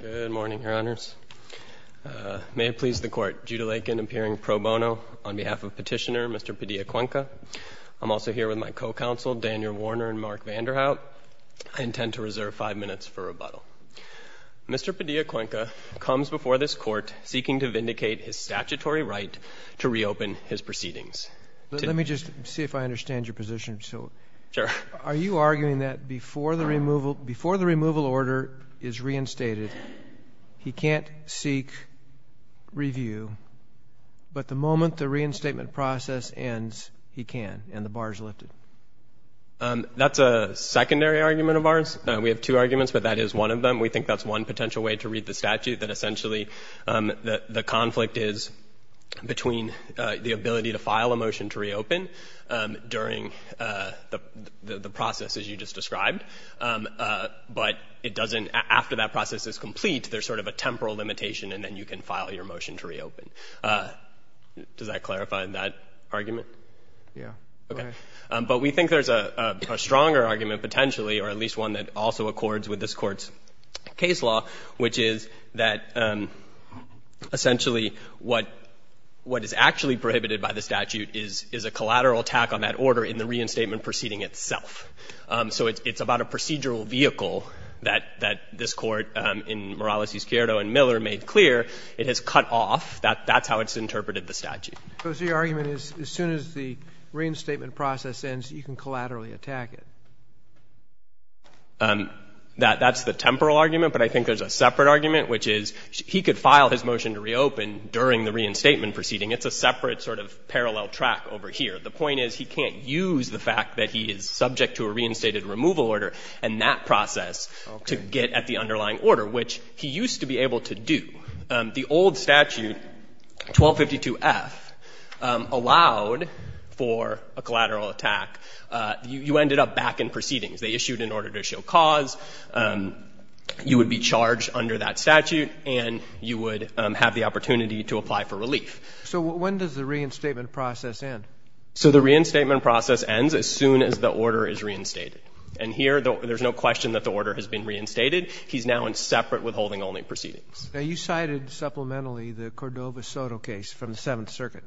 Good morning, Your Honors. May it please the Court, Judah Lakin appearing pro bono on behalf of Petitioner Mr. Padilla Cuenca. I'm also here with my co-counsel Daniel Warner and Mark Vanderhout. I intend to reserve five minutes for rebuttal. Mr. Padilla Cuenca comes before this Court seeking to vindicate his statutory right to reopen his proceedings. Let me just see if I understand your position. Sure. Are you arguing that before the removal order is reinstated, he can't seek review, but the moment the reinstatement process ends, he can and the bar is lifted? That's a secondary argument of ours. We have two arguments, but that is one of them. We think that's one potential way to read the statute, that essentially the conflict is between the ability to file a motion to reopen during the process, as you just described, but it doesn't, after that process is complete, there's sort of a temporal limitation, and then you can file your motion to reopen. Does that clarify that argument? Yeah. Okay. But we think there's a stronger argument potentially, or at least one that also accords with this Court's case law, which is that essentially what is actually prohibited by the statute is a collateral attack on that order in the reinstatement proceeding itself. So it's about a procedural vehicle that this Court, in Morales v. Chiodo and Miller, made clear. It has cut off. That's how it's interpreted, the statute. So the argument is as soon as the reinstatement process ends, you can collaterally attack it? That's the temporal argument, but I think there's a separate argument, which is he could file his motion to reopen during the reinstatement proceeding. It's a separate sort of parallel track over here. The point is he can't use the fact that he is subject to a reinstated removal order and that process to get at the underlying order, which he used to be able to do. The old statute, 1252F, allowed for a collateral attack. You ended up back in proceedings. They issued an order to show cause. You would be charged under that statute and you would have the opportunity to apply for relief. So when does the reinstatement process end? So the reinstatement process ends as soon as the order is reinstated. And here, there's no question that the order has been reinstated. He's now in separate withholding-only proceedings. Now, you cited supplementally the Cordova-Soto case from the Seventh Circuit.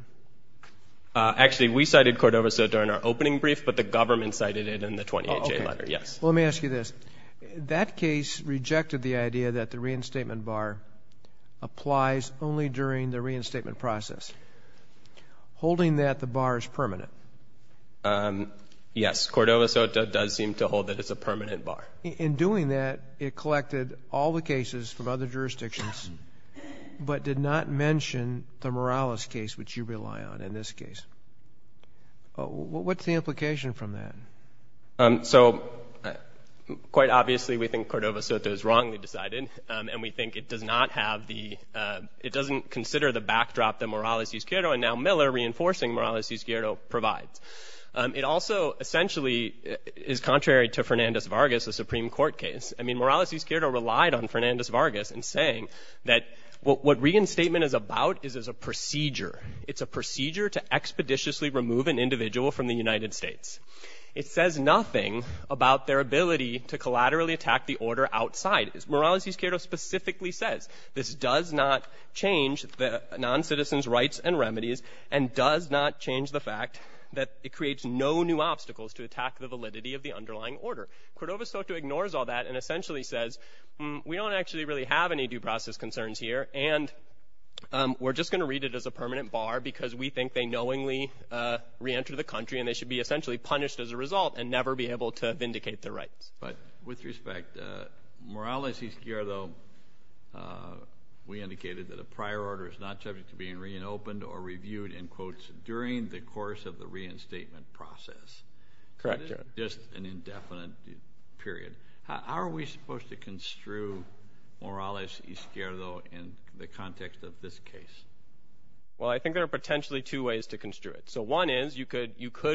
Actually, we cited Cordova-Soto in our opening brief, but the government cited it in the 28-J letter, yes. Well, let me ask you this. That case rejected the idea that the reinstatement bar applies only during the reinstatement process. Holding that, the bar is permanent. Yes. Cordova-Soto does seem to hold that it's a permanent bar. In doing that, it collected all the cases from other jurisdictions, but did not mention the Morales case, which you rely on in this case. What's the implication from that? So, quite obviously, we think Cordova-Soto is wrongly decided, and we think it does not have the — it doesn't consider the backdrop that Morales-Uzquierdo, and now Miller, reinforcing Morales-Uzquierdo, provides. It also essentially is contrary to Fernandez-Vargas, the Supreme Court case. I mean, Morales-Uzquierdo relied on Fernandez-Vargas in saying that what reinstatement is about is as a procedure. It's a procedure to expeditiously remove an individual from the United States. It says nothing about their ability to collaterally attack the order outside. Morales-Uzquierdo specifically says this does not change the noncitizens' rights and remedies, and does not change the fact that it creates no new obstacles to attack the validity of the underlying order. Cordova-Soto ignores all that and essentially says, we don't actually really have any due process concerns here, and we're just going to read it as a permanent bar because we think they knowingly reentered the country, and they should be essentially punished as a result and never be able to vindicate their rights. But with respect, Morales-Uzquierdo, we indicated that a prior order is not subject to being reopened or reviewed, in quotes, during the course of the reinstatement process. That is just an indefinite period. How are we supposed to construe Morales-Uzquierdo in the context of this case? Well, I think there are potentially two ways to construe it. So one is you could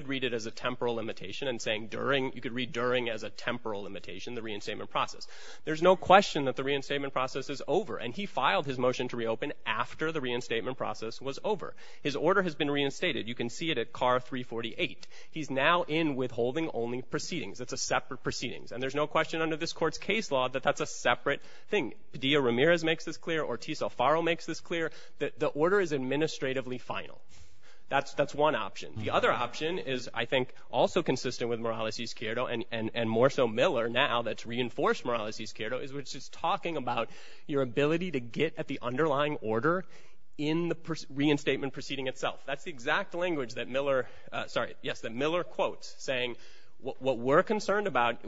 read it as a temporal limitation and saying during, you could read during as a temporal limitation the reinstatement process. There's no question that the reinstatement process is over, and he filed his motion to reopen after the reinstatement process was over. His order has been reinstated. You can see it at CAR 348. He's now in withholding only proceedings. It's a separate proceedings, and there's no question under this court's case law that that's a separate thing. Padilla-Ramirez makes this clear. Ortiz-Alfaro makes this clear. The order is administratively final. That's one option. The other option is, I think, also consistent with Morales-Uzquierdo and more so Miller now that's reinforced Morales-Uzquierdo, which is talking about your ability to get at the underlying order in the reinstatement proceeding itself. That's the exact language that Miller, sorry, yes, that Miller quotes saying what we're concerned about,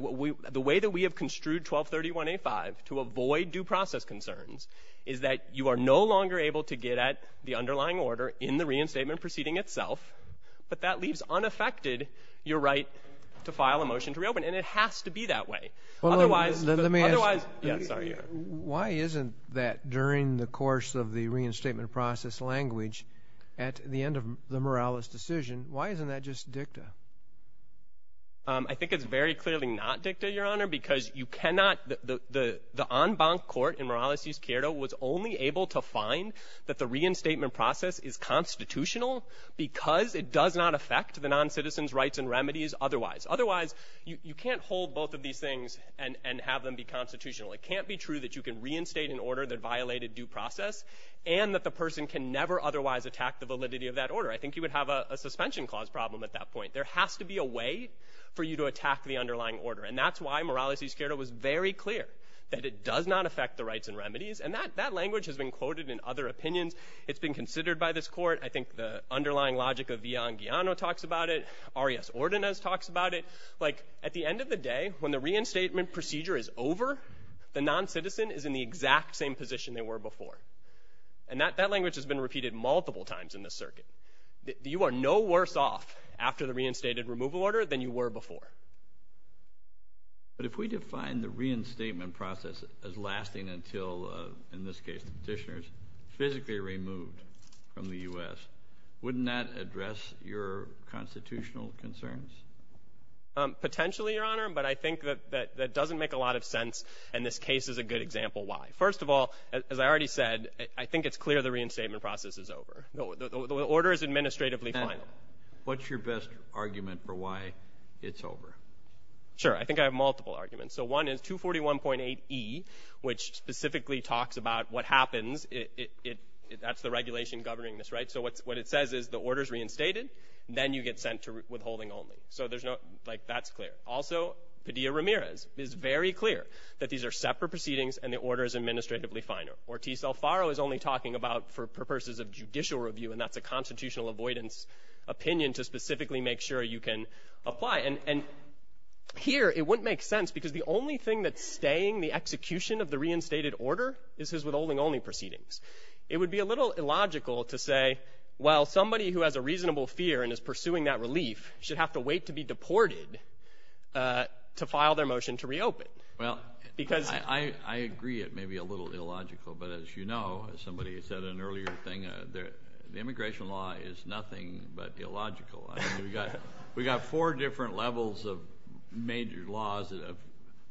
the way that we have construed 1231A5 to avoid due process concerns is that you are no longer able to get at the underlying order in the reinstatement proceeding itself, but that leaves unaffected your right to file a motion to reopen. And it has to be that way. Well, let me ask, why isn't that during the course of the reinstatement process language at the end of the Morales decision, why isn't that just dicta? I think it's very clearly not dicta, Your Honor, because you cannot, the en banc court in Morales-Uzquierdo was only able to find that the reinstatement process is constitutional because it does not affect the noncitizens' rights and remedies otherwise. Otherwise, you can't hold both of these things and have them be constitutional. It can't be true that you can reinstate an order that violated due process and that the person can never otherwise attack the validity of that order. I think you would have a suspension clause problem at that point. There has to be a way for you to attack the underlying order. And that's why Morales-Uzquierdo was very clear that it does not affect the rights and remedies, and that language has been quoted in other opinions. It's been considered by this court. I think the underlying logic of Villan Guiano talks about it. Arias Ordonez talks about it. Like, at the end of the day, when the reinstatement procedure is over, the noncitizen is in the exact same position they were before. And that language has been repeated multiple times in this circuit. You are no worse off after the reinstated removal order than you were before. But if we define the reinstatement process as lasting until, in this case, the petitioner is physically removed from the U.S., wouldn't that address your constitutional concerns? Potentially, Your Honor, but I think that that doesn't make a lot of sense, and this case is a good example why. First of all, as I already said, I think it's clear the reinstatement process is over. The order is administratively final. And what's your best argument for why it's over? Sure. I think I have multiple arguments. So one is 241.8e, which specifically talks about what happens. That's the regulation governing this, right? So what it says is the order is reinstated, then you get sent to withholding only. So there's no – like, that's clear. Also, Padilla-Ramirez is very clear that these are separate proceedings and the order is administratively final. Ortiz-Alfaro is only talking about for purposes of judicial review, and that's a constitutional avoidance opinion to specifically make sure you can apply. And here, it wouldn't make sense, because the only thing that's staying the execution of the reinstated order is his withholding only proceedings. It would be a little illogical to say, well, somebody who has a reasonable fear and is pursuing that relief should have to wait to be deported to file their motion to reopen. Well, I agree it may be a little illogical, but as you know, as somebody said in an earlier thing, the immigration law is nothing but illogical. I mean, we've got four different levels of major laws that are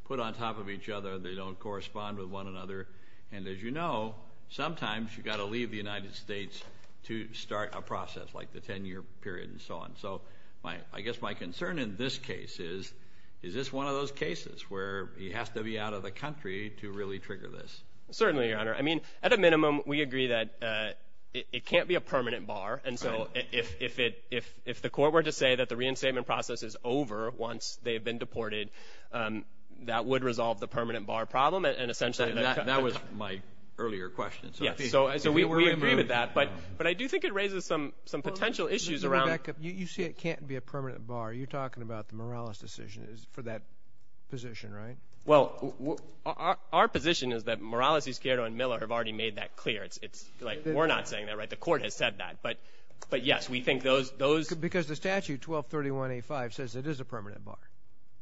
put on top of each other. They don't correspond with one another. And as you know, sometimes you've got to leave the United States to start a process like the 10-year period and so on. So I guess my concern in this case is, is this one of those cases where he has to be out of the country to really trigger this? Certainly, Your Honor. I mean, at a minimum, we agree that it can't be a permanent bar. And so if the court were to say that the reinstatement process is over once they've been deported, that would resolve the permanent bar problem. And essentially – That was my earlier question. Yes. So we agree with that. But I do think it raises some potential issues around – Let me back up. You say it can't be a permanent bar. You're talking about the Morales decision for that position, right? Well, our position is that Morales, Escuero, and Miller have already made that clear. It's like we're not saying that, right? The court has said that. But, yes, we think those – Because the statute, 1231A5, says it is a permanent bar.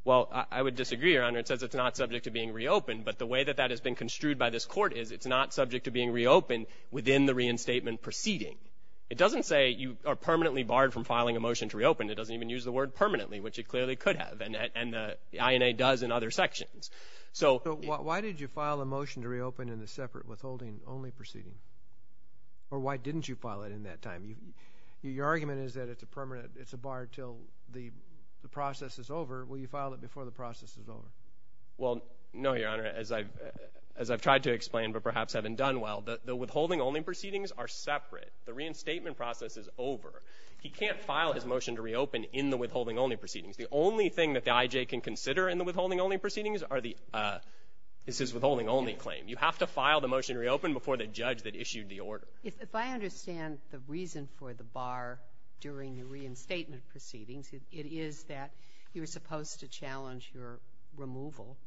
Well, I would disagree, Your Honor. It says it's not subject to being reopened. But the way that that has been construed by this court is it's not subject to being reopened within the reinstatement proceeding. It doesn't say you are permanently barred from filing a motion to reopen. It doesn't even use the word permanently, which it clearly could have. And the INA does in other sections. So – Or why didn't you file it in that time? Your argument is that it's a permanent – it's a bar until the process is over. Will you file it before the process is over? Well, no, Your Honor, as I've tried to explain but perhaps haven't done well, the withholding-only proceedings are separate. The reinstatement process is over. He can't file his motion to reopen in the withholding-only proceedings. The only thing that the IJ can consider in the withholding-only proceedings is his withholding-only claim. You have to file the motion to reopen before the judge that issued the order. If I understand the reason for the bar during the reinstatement proceedings, it is that you're supposed to challenge your removal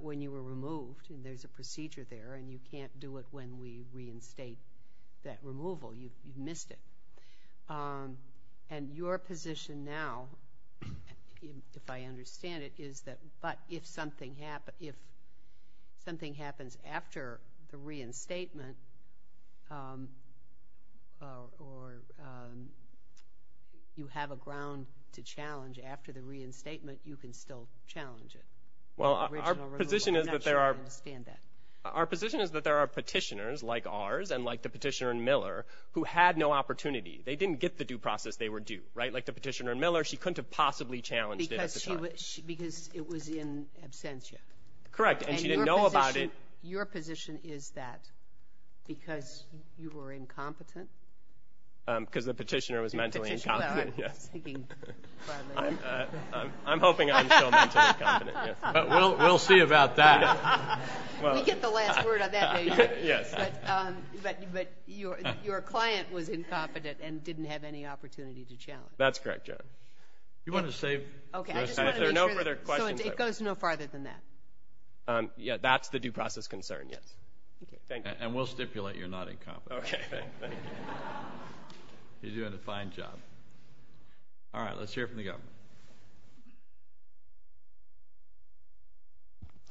when you were removed, and there's a procedure there, and you can't do it when we reinstate that removal. You've missed it. And your position now, if I understand it, is that, but if something happens after the reinstatement or you have a ground to challenge after the reinstatement, you can still challenge it. Well, our position is that there are petitioners like ours and like the petitioner in Miller who had no opportunity. They didn't get the due process they were due, right? Like the petitioner in Miller, she couldn't have possibly challenged it at the time. Because it was in absentia. Correct, and she didn't know about it. And your position is that because you were incompetent? Because the petitioner was mentally incompetent, yes. I'm hoping I'm still mentally incompetent, yes. But we'll see about that. We get the last word on that, don't we? Yes. But your client was incompetent and didn't have any opportunity to challenge. That's correct, Judge. Do you want to save your time? Okay, I just want to make sure that it goes no farther than that. Yeah, that's the due process concern, yes. Thank you. And we'll stipulate you're not incompetent. Okay. Thank you. You're doing a fine job. All right, let's hear it from the Governor.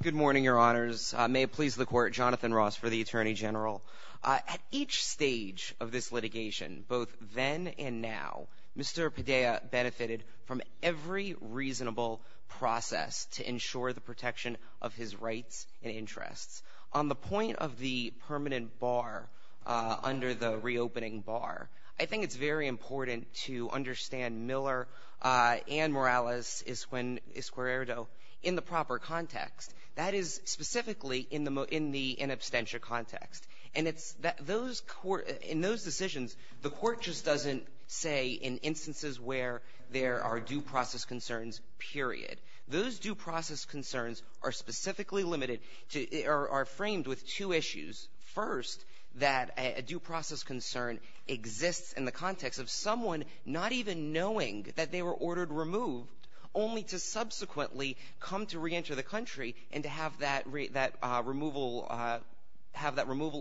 Good morning, Your Honors. May it please the Court, Jonathan Ross for the Attorney General. At each stage of this litigation, both then and now, Mr. Padilla benefited from every reasonable process to ensure the protection of his rights and interests. On the point of the permanent bar under the reopening bar, I think it's very important to understand Miller and Morales Esqueredo in the proper context. That is specifically in the in absentia context. And in those decisions, the Court just doesn't say in instances where there are due process concerns, period. Those due process concerns are specifically limited or are framed with two issues. First, that a due process concern exists in the context of someone not even knowing that they were ordered removed only to subsequently come to reenter the country and to have that removal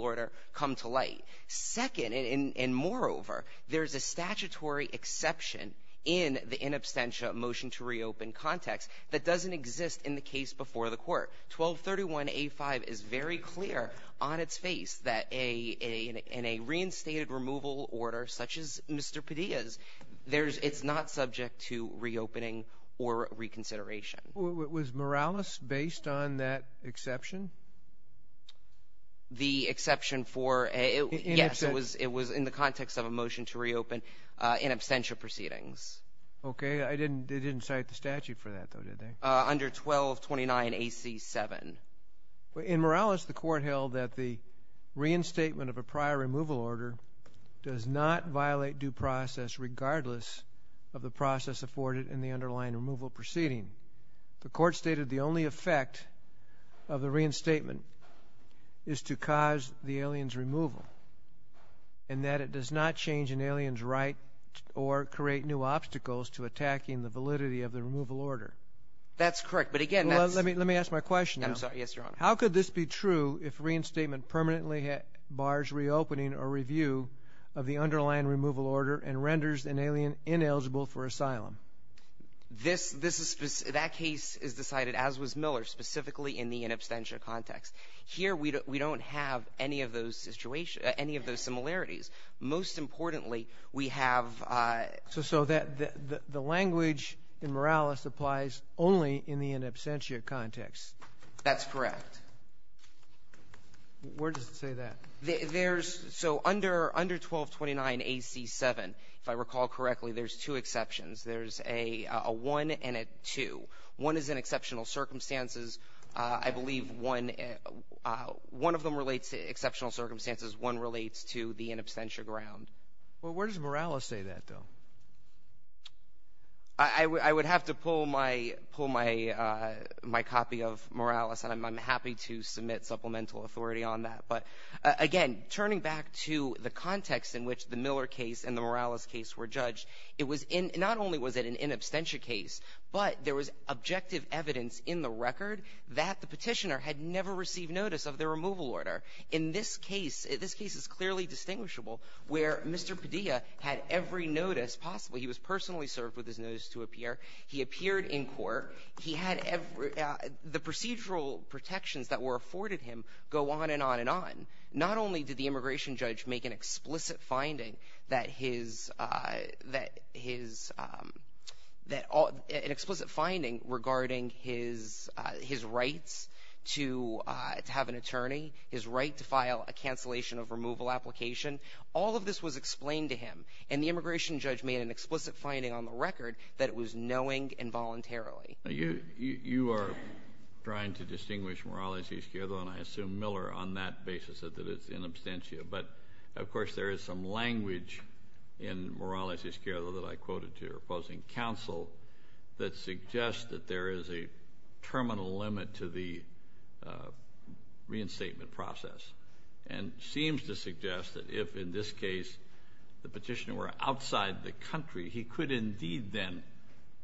order come to light. Second, and moreover, there's a statutory exception in the in absentia motion to reopen context that doesn't exist in the case before the Court. 1231A5 is very clear on its face that in a reinstated removal order such as Mr. Padilla's, it's not subject to reopening or reconsideration. Was Morales based on that exception? The exception for, yes, it was in the context of a motion to reopen in absentia proceedings. Okay, they didn't cite the statute for that, though, did they? Under 1229AC7. In Morales, the Court held that the reinstatement of a prior removal order does not violate due process regardless of the process afforded in the underlying removal proceeding. The Court stated the only effect of the reinstatement is to cause the alien's removal and that it does not change an alien's right or create new obstacles to attacking the validity of the removal order. That's correct, but again that's... Well, let me ask my question now. I'm sorry, yes, Your Honor. How could this be true if reinstatement permanently bars reopening or review of the underlying removal order and renders an alien ineligible for asylum? That case is decided, as was Miller, specifically in the in absentia context. Here we don't have any of those similarities. Most importantly, we have... So the language in Morales applies only in the in absentia context. That's correct. Where does it say that? There's... So under 1229 AC 7, if I recall correctly, there's two exceptions. There's a 1 and a 2. One is in exceptional circumstances. I believe one of them relates to exceptional circumstances. One relates to the in absentia ground. Well, where does Morales say that, though? I would have to pull my copy of Morales, and I'm happy to submit supplemental authority on that. But, again, turning back to the context in which the Miller case and the Morales case were judged, not only was it an in absentia case, but there was objective evidence in the record that the petitioner had never received notice of the removal order. In this case, this case is clearly distinguishable, where Mr. Padilla had every notice possible. He was personally served with his notice to appear. He appeared in court. He had every... The procedural protections that were afforded him go on and on and on. Not only did the immigration judge make an explicit finding that his... an explicit finding regarding his rights to have an attorney, his right to file a cancellation of removal application, all of this was explained to him, and the immigration judge made an explicit finding on the record that it was knowing involuntarily. You are trying to distinguish Morales y Esquerdo, and I assume Miller on that basis said that it's in absentia. But, of course, there is some language in Morales y Esquerdo that I quoted to your opposing counsel that suggests that there is a terminal limit to the reinstatement process and seems to suggest that if, in this case, the petitioner were outside the country, he could indeed then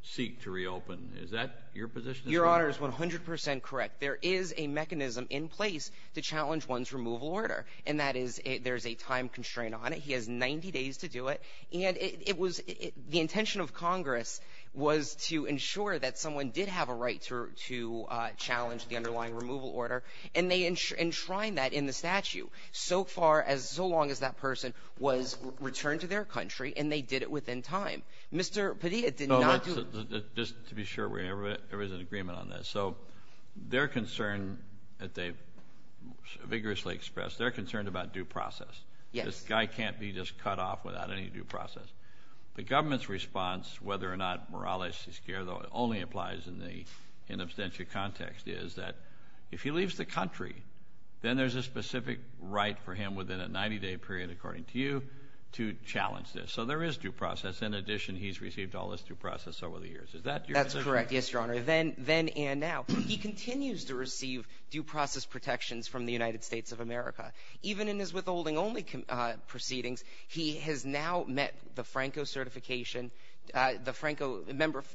seek to reopen. Is that your position as well? Your Honor is 100 percent correct. There is a mechanism in place to challenge one's removal order, and that is there's a time constraint on it. He has 90 days to do it, and the intention of Congress was to ensure that someone did have a right to challenge the underlying removal order, and they enshrined that in the statute so far as... returned to their country, and they did it within time. Mr. Padilla did not do... Just to be sure, there is an agreement on this. So their concern that they've vigorously expressed, they're concerned about due process. Yes. This guy can't be just cut off without any due process. The government's response, whether or not Morales y Esquerdo only applies in the in absentia context, is that if he leaves the country, then there's a specific right for him within a 90-day period, according to you, to challenge this. So there is due process. In addition, he's received all this due process over the years. Is that your position? That's correct, yes, Your Honor, then and now. He continues to receive due process protections from the United States of America. Even in his withholding only proceedings, he has now met the Franco certification, the Franco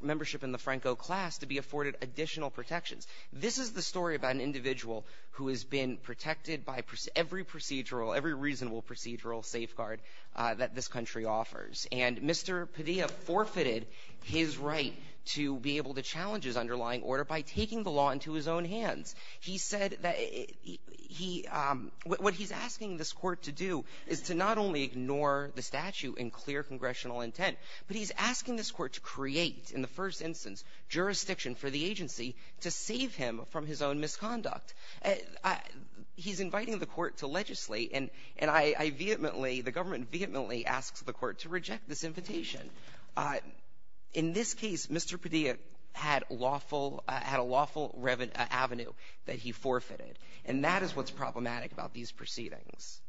membership in the Franco class to be afforded additional protections. This is the story about an individual who has been protected by every procedural, every reasonable procedural safeguard that this country offers. And Mr. Padilla forfeited his right to be able to challenge his underlying order by taking the law into his own hands. He said that he... What he's asking this court to do is to not only ignore the statute and clear congressional intent, but he's asking this court to create, in the first instance, jurisdiction for the agency to save him from his own misconduct. He's inviting the court to legislate, and I vehemently, the government vehemently asks the court to reject this invitation. In this case, Mr. Padilla had lawful... had a lawful avenue that he forfeited, and that is what's problematic about these proceedings.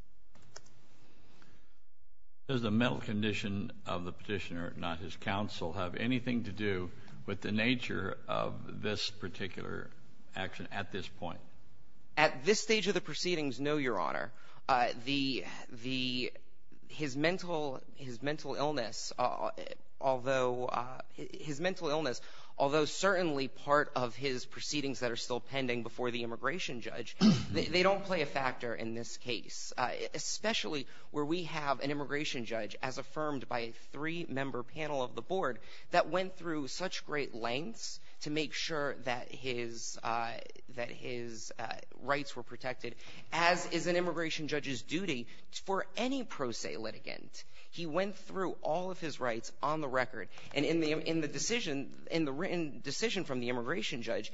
Does the mental condition of the petitioner, not his counsel, have anything to do with the nature of this particular action at this point? At this stage of the proceedings, no, Your Honor. The... His mental illness, although... His mental illness, although certainly part of his proceedings that are still pending before the immigration judge, they don't play a factor in this case, especially where we have an immigration judge, as affirmed by a three-member panel of the board, that went through such great lengths to make sure that his... that his rights were protected, as is an immigration judge's duty for any pro se litigant. He went through all of his rights on the record, and in the decision, in the written decision from the immigration judge,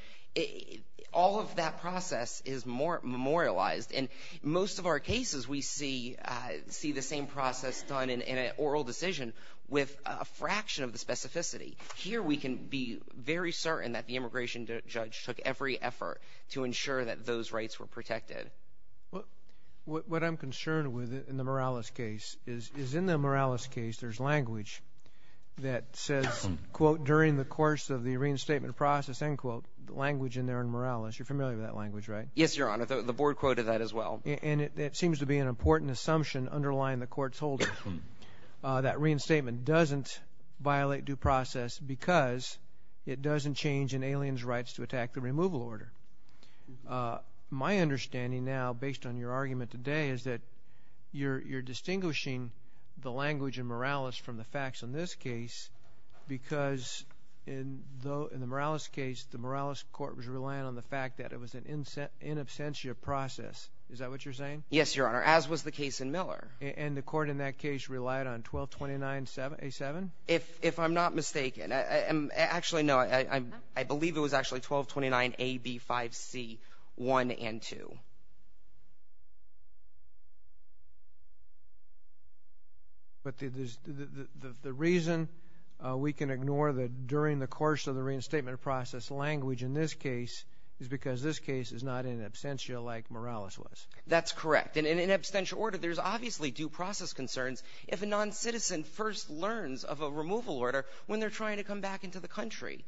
all of that process is memorialized, and most of our cases, we see the same process done in an oral decision with a fraction of the specificity. Here we can be very certain that the immigration judge took every effort to ensure that those rights were protected. What I'm concerned with in the Morales case is in the Morales case, there's language that says, quote, during the course of the reinstatement process, end quote, language in there in Morales. You're familiar with that language, right? Yes, Your Honor. The board quoted that as well. And it seems to be an important assumption underlying the court's holdings that reinstatement doesn't violate due process because it doesn't change an alien's rights to attack the removal order. My understanding now, based on your argument today, is that you're distinguishing the language in Morales from the facts in this case because in the Morales case, the Morales court was relying on the fact that it was an in absentia process. Is that what you're saying? Yes, Your Honor, as was the case in Miller. And the court in that case relied on 1229A7? If I'm not mistaken. Actually, no. I believe it was actually 1229AB5C1 and 2. But the reason we can ignore that during the course of the reinstatement process language in this case is because this case is not in absentia like Morales was. That's correct. And in absentia order, there's obviously due process concerns if a noncitizen first learns of a removal order when they're trying to come back into the country.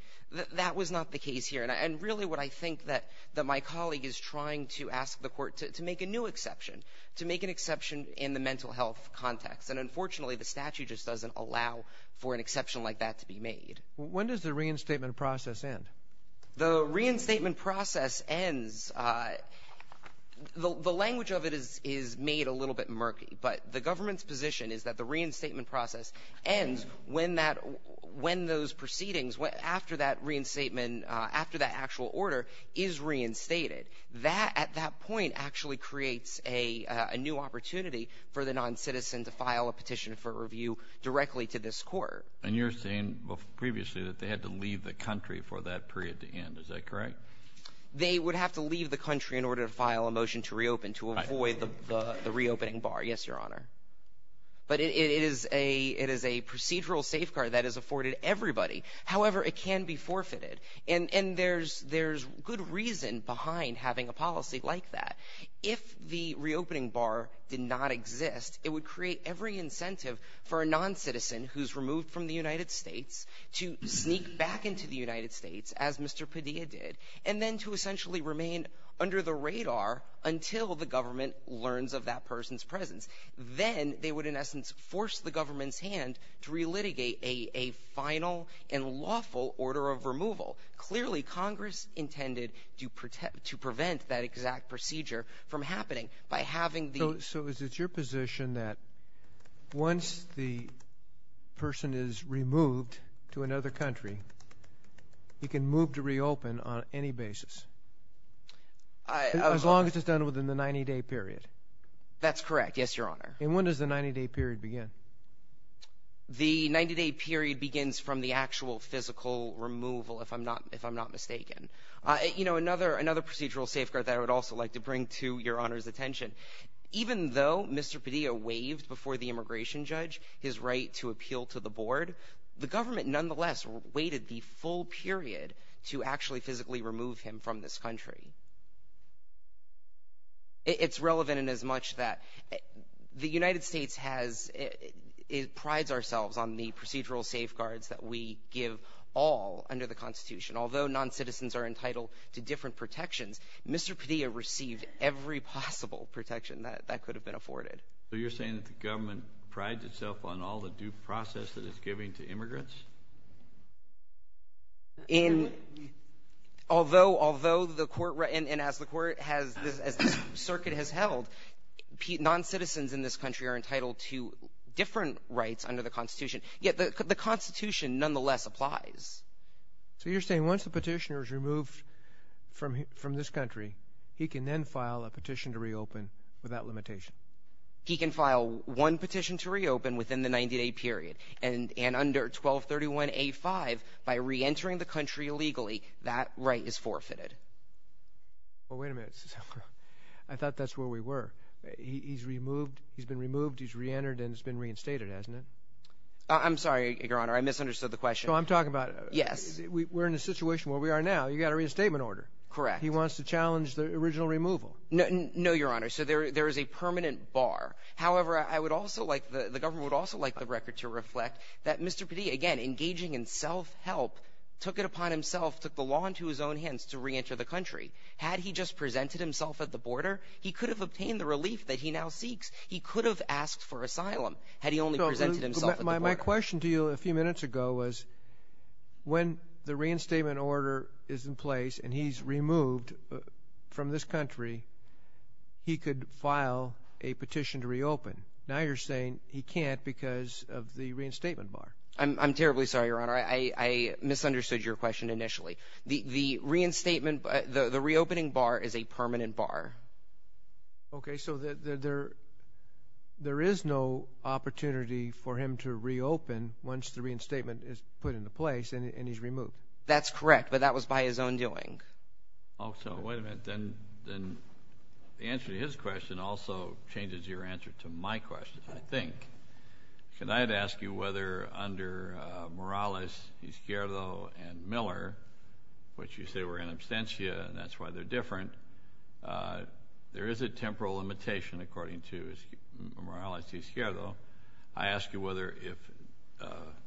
That was not the case here. And really what I think that my colleague is trying to ask the court to make a new exception, to make an exception in the mental health context. And unfortunately, the statute just doesn't allow for an exception like that to be made. When does the reinstatement process end? The reinstatement process ends... The language of it is made a little bit murky, but the government's position is that the reinstatement process ends when those proceedings, after that reinstatement, after that actual order is reinstated. That, at that point, actually creates a new opportunity for the noncitizen to file a petition for review directly to this court. And you're saying previously that they had to leave the country for that period to end. Is that correct? They would have to leave the country in order to file a motion to reopen, to avoid the reopening bar. Yes, Your Honor. But it is a procedural safeguard that is afforded to everybody. However, it can be forfeited. And there's good reason behind having a policy like that. If the reopening bar did not exist, it would create every incentive for a noncitizen who's removed from the United States to sneak back into the United States, as Mr. Padilla did, and then to essentially remain under the radar until the government learns of that person's presence. Then they would, in essence, force the government's hand to relitigate a final and lawful order of removal. Clearly, Congress intended to prevent that exact procedure from happening by having the— So is it your position that once the person is removed to another country, he can move to reopen on any basis, as long as it's done within the 90-day period? That's correct, yes, Your Honor. And when does the 90-day period begin? The 90-day period begins from the actual physical removal, if I'm not mistaken. You know, another procedural safeguard that I would also like to bring to Your Honor's attention, even though Mr. Padilla waived before the immigration judge his right to appeal to the board, the government nonetheless waited the full period to actually physically remove him from this country. It's relevant inasmuch that the United States prides ourselves on the procedural safeguards that we give all under the Constitution. Although noncitizens are entitled to different protections, Mr. Padilla received every possible protection that could have been afforded. So you're saying that the government prides itself on all the due process that it's giving to immigrants? Although the court has, as the circuit has held, noncitizens in this country are entitled to different rights under the Constitution, yet the Constitution nonetheless applies. So you're saying once the petitioner is removed from this country, he can then file a petition to reopen without limitation? He can file one petition to reopen within the 90-day period, and under 1231A5, by reentering the country illegally, that right is forfeited. Well, wait a minute. I thought that's where we were. He's removed, he's been removed, he's reentered, and he's been reinstated, hasn't he? I'm sorry, Your Honor, I misunderstood the question. No, I'm talking about... Yes. We're in a situation where we are now. You've got a reinstatement order. Correct. He wants to challenge the original removal. No, Your Honor. So there is a permanent bar. However, I would also like, the government would also like the record to reflect that Mr. Padilla, again, engaging in self-help, took it upon himself, took the law into his own hands to reenter the country. Had he just presented himself at the border, he could have obtained the relief that he now seeks. He could have asked for asylum had he only presented himself at the border. My question to you a few minutes ago was when the reinstatement order is in place and he's removed from this country, he could file a petition to reopen. Now you're saying he can't because of the reinstatement bar. I'm terribly sorry, Your Honor. I misunderstood your question initially. The reopening bar is a permanent bar. Okay, so there is no opportunity for him to reopen once the reinstatement is put into place and he's removed. That's correct, but that was by his own doing. Oh, so wait a minute. Then the answer to his question also changes your answer to my question, I think. Can I ask you whether under Morales, Izquierdo, and Miller, which you say were in absentia, and that's why they're different, there is a temporal limitation according to Morales, Izquierdo. I ask you whether if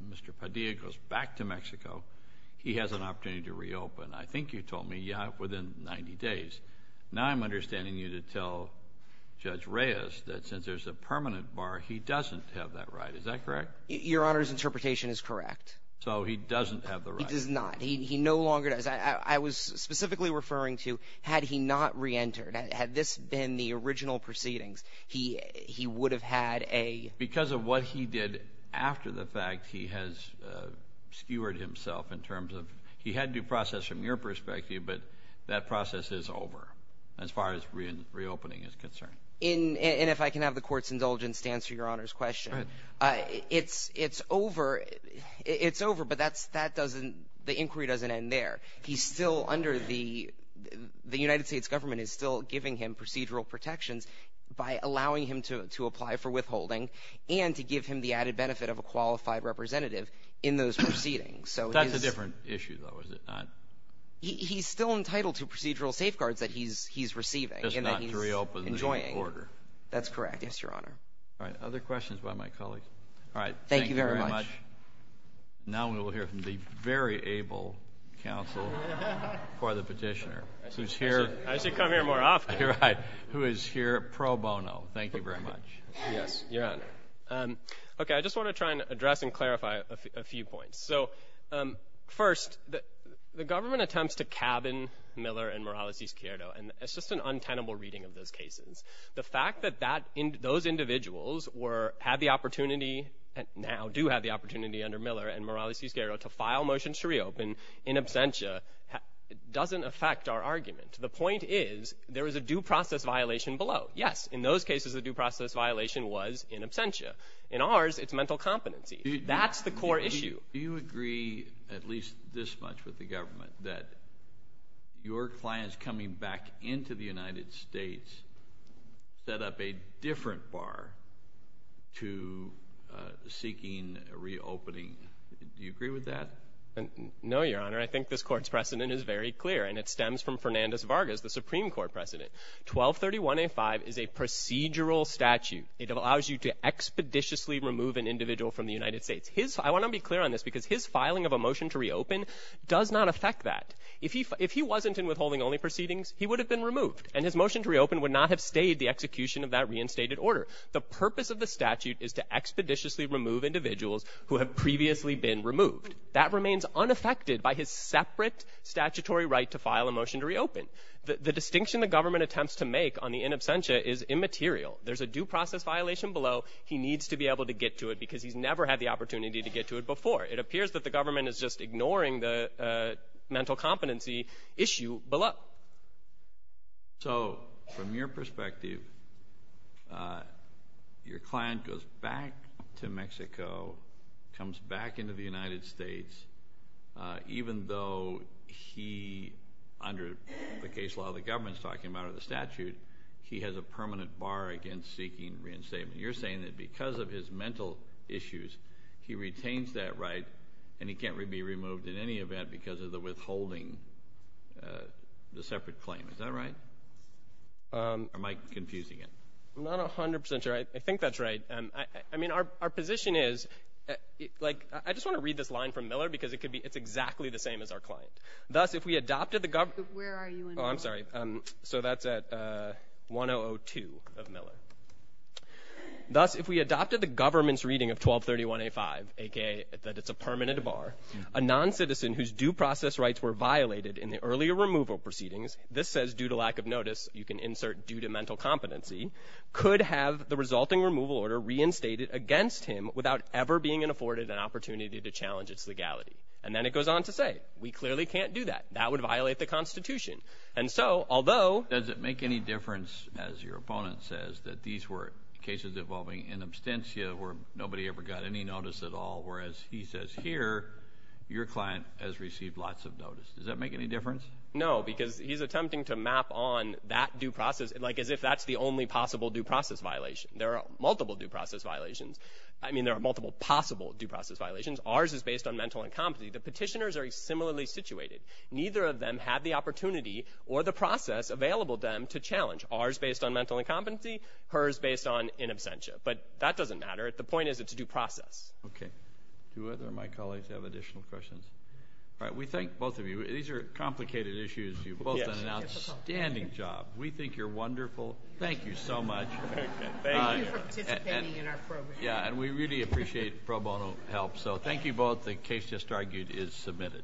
Mr. Padilla goes back to Mexico, he has an opportunity to reopen. I think you told me within 90 days. Now I'm understanding you to tell Judge Reyes that since there's a permanent bar, he doesn't have that right. Is that correct? Your Honor's interpretation is correct. So he doesn't have the right. He does not. He no longer does. I was specifically referring to had he not reentered, had this been the original proceedings, he would have had a – Because of what he did after the fact, he has skewered himself in terms of – he had due process from your perspective, but that process is over as far as reopening is concerned. And if I can have the Court's indulgence to answer your Honor's question. It's over, but that doesn't – the inquiry doesn't end there. He's still under the – the United States Government is still giving him procedural protections by allowing him to apply for withholding and to give him the added benefit of a qualified representative in those proceedings. That's a different issue, though, is it not? He's still entitled to procedural safeguards that he's receiving and that he's enjoying. Just not to reopen the order. That's correct, yes, Your Honor. Other questions by my colleagues? Thank you very much. Now we will hear from the very able counsel for the petitioner, who's here – I should come here more often. You're right, who is here pro bono. Thank you very much. Yes, Your Honor. Okay, I just want to try and address and clarify a few points. So first, the government attempts to cabin Miller and Morales-DiScierto, and it's just an untenable reading of those cases. The fact that that – those individuals were – had the opportunity and now do have the opportunity under Miller and Morales-DiScierto to file motions to reopen in absentia doesn't affect our argument. The point is there is a due process violation below. Yes, in those cases, the due process violation was in absentia. In ours, it's mental competency. That's the core issue. Do you agree at least this much with the government that your clients coming back into the United States set up a different bar to seeking a reopening? Do you agree with that? No, Your Honor. I think this court's precedent is very clear, and it stems from Fernandez Vargas, the Supreme Court precedent. 1231A5 is a procedural statute. It allows you to expeditiously remove an individual from the United States. I want to be clear on this because his filing of a motion to reopen does not affect that. If he wasn't in withholding only proceedings, he would have been removed, and his motion to reopen would not have stayed the execution of that reinstated order. The purpose of the statute is to expeditiously remove individuals who have previously been removed. That remains unaffected by his separate statutory right to file a motion to reopen. The distinction the government attempts to make on the in absentia is immaterial. There's a due process violation below. He needs to be able to get to it because he's never had the opportunity to get to it before. It appears that the government is just ignoring the mental competency issue below. So from your perspective, your client goes back to Mexico, comes back into the United States, even though he, under the case law the government's talking about or the statute, he has a permanent bar against seeking reinstatement. You're saying that because of his mental issues, he retains that right, and he can't be removed in any event because of the withholding, the separate claim. Is that right? Or am I confusing it? I'm not 100 percent sure. I think that's right. I mean, our position is, like, I just want to read this line from Miller because it could be it's exactly the same as our client. Thus, if we adopted the government. Where are you in the law? Oh, I'm sorry. So that's at 1002 of Miller. Thus, if we adopted the government's reading of 1231A5, a.k.a. that it's a permanent bar, a noncitizen whose due process rights were violated in the earlier removal proceedings, this says due to lack of notice, you can insert due to mental competency, could have the resulting removal order reinstated against him without ever being afforded an opportunity to challenge its legality. And then it goes on to say, we clearly can't do that. That would violate the Constitution. And so, although. Does it make any difference, as your opponent says, that these were cases involving in absentia where nobody ever got any notice at all, whereas he says here your client has received lots of notice. Does that make any difference? No, because he's attempting to map on that due process, like as if that's the only possible due process violation. There are multiple due process violations. I mean, there are multiple possible due process violations. Ours is based on mental incompetency. The petitioners are similarly situated. Neither of them have the opportunity or the process available to them to challenge. Ours is based on mental incompetency. Hers is based on in absentia. But that doesn't matter. The point is it's a due process. Okay. Do either of my colleagues have additional questions? All right, we thank both of you. These are complicated issues. You've both done an outstanding job. We think you're wonderful. Thank you so much. Thank you for participating in our program. Yeah, and we really appreciate pro bono help. So thank you both. The case just argued is submitted.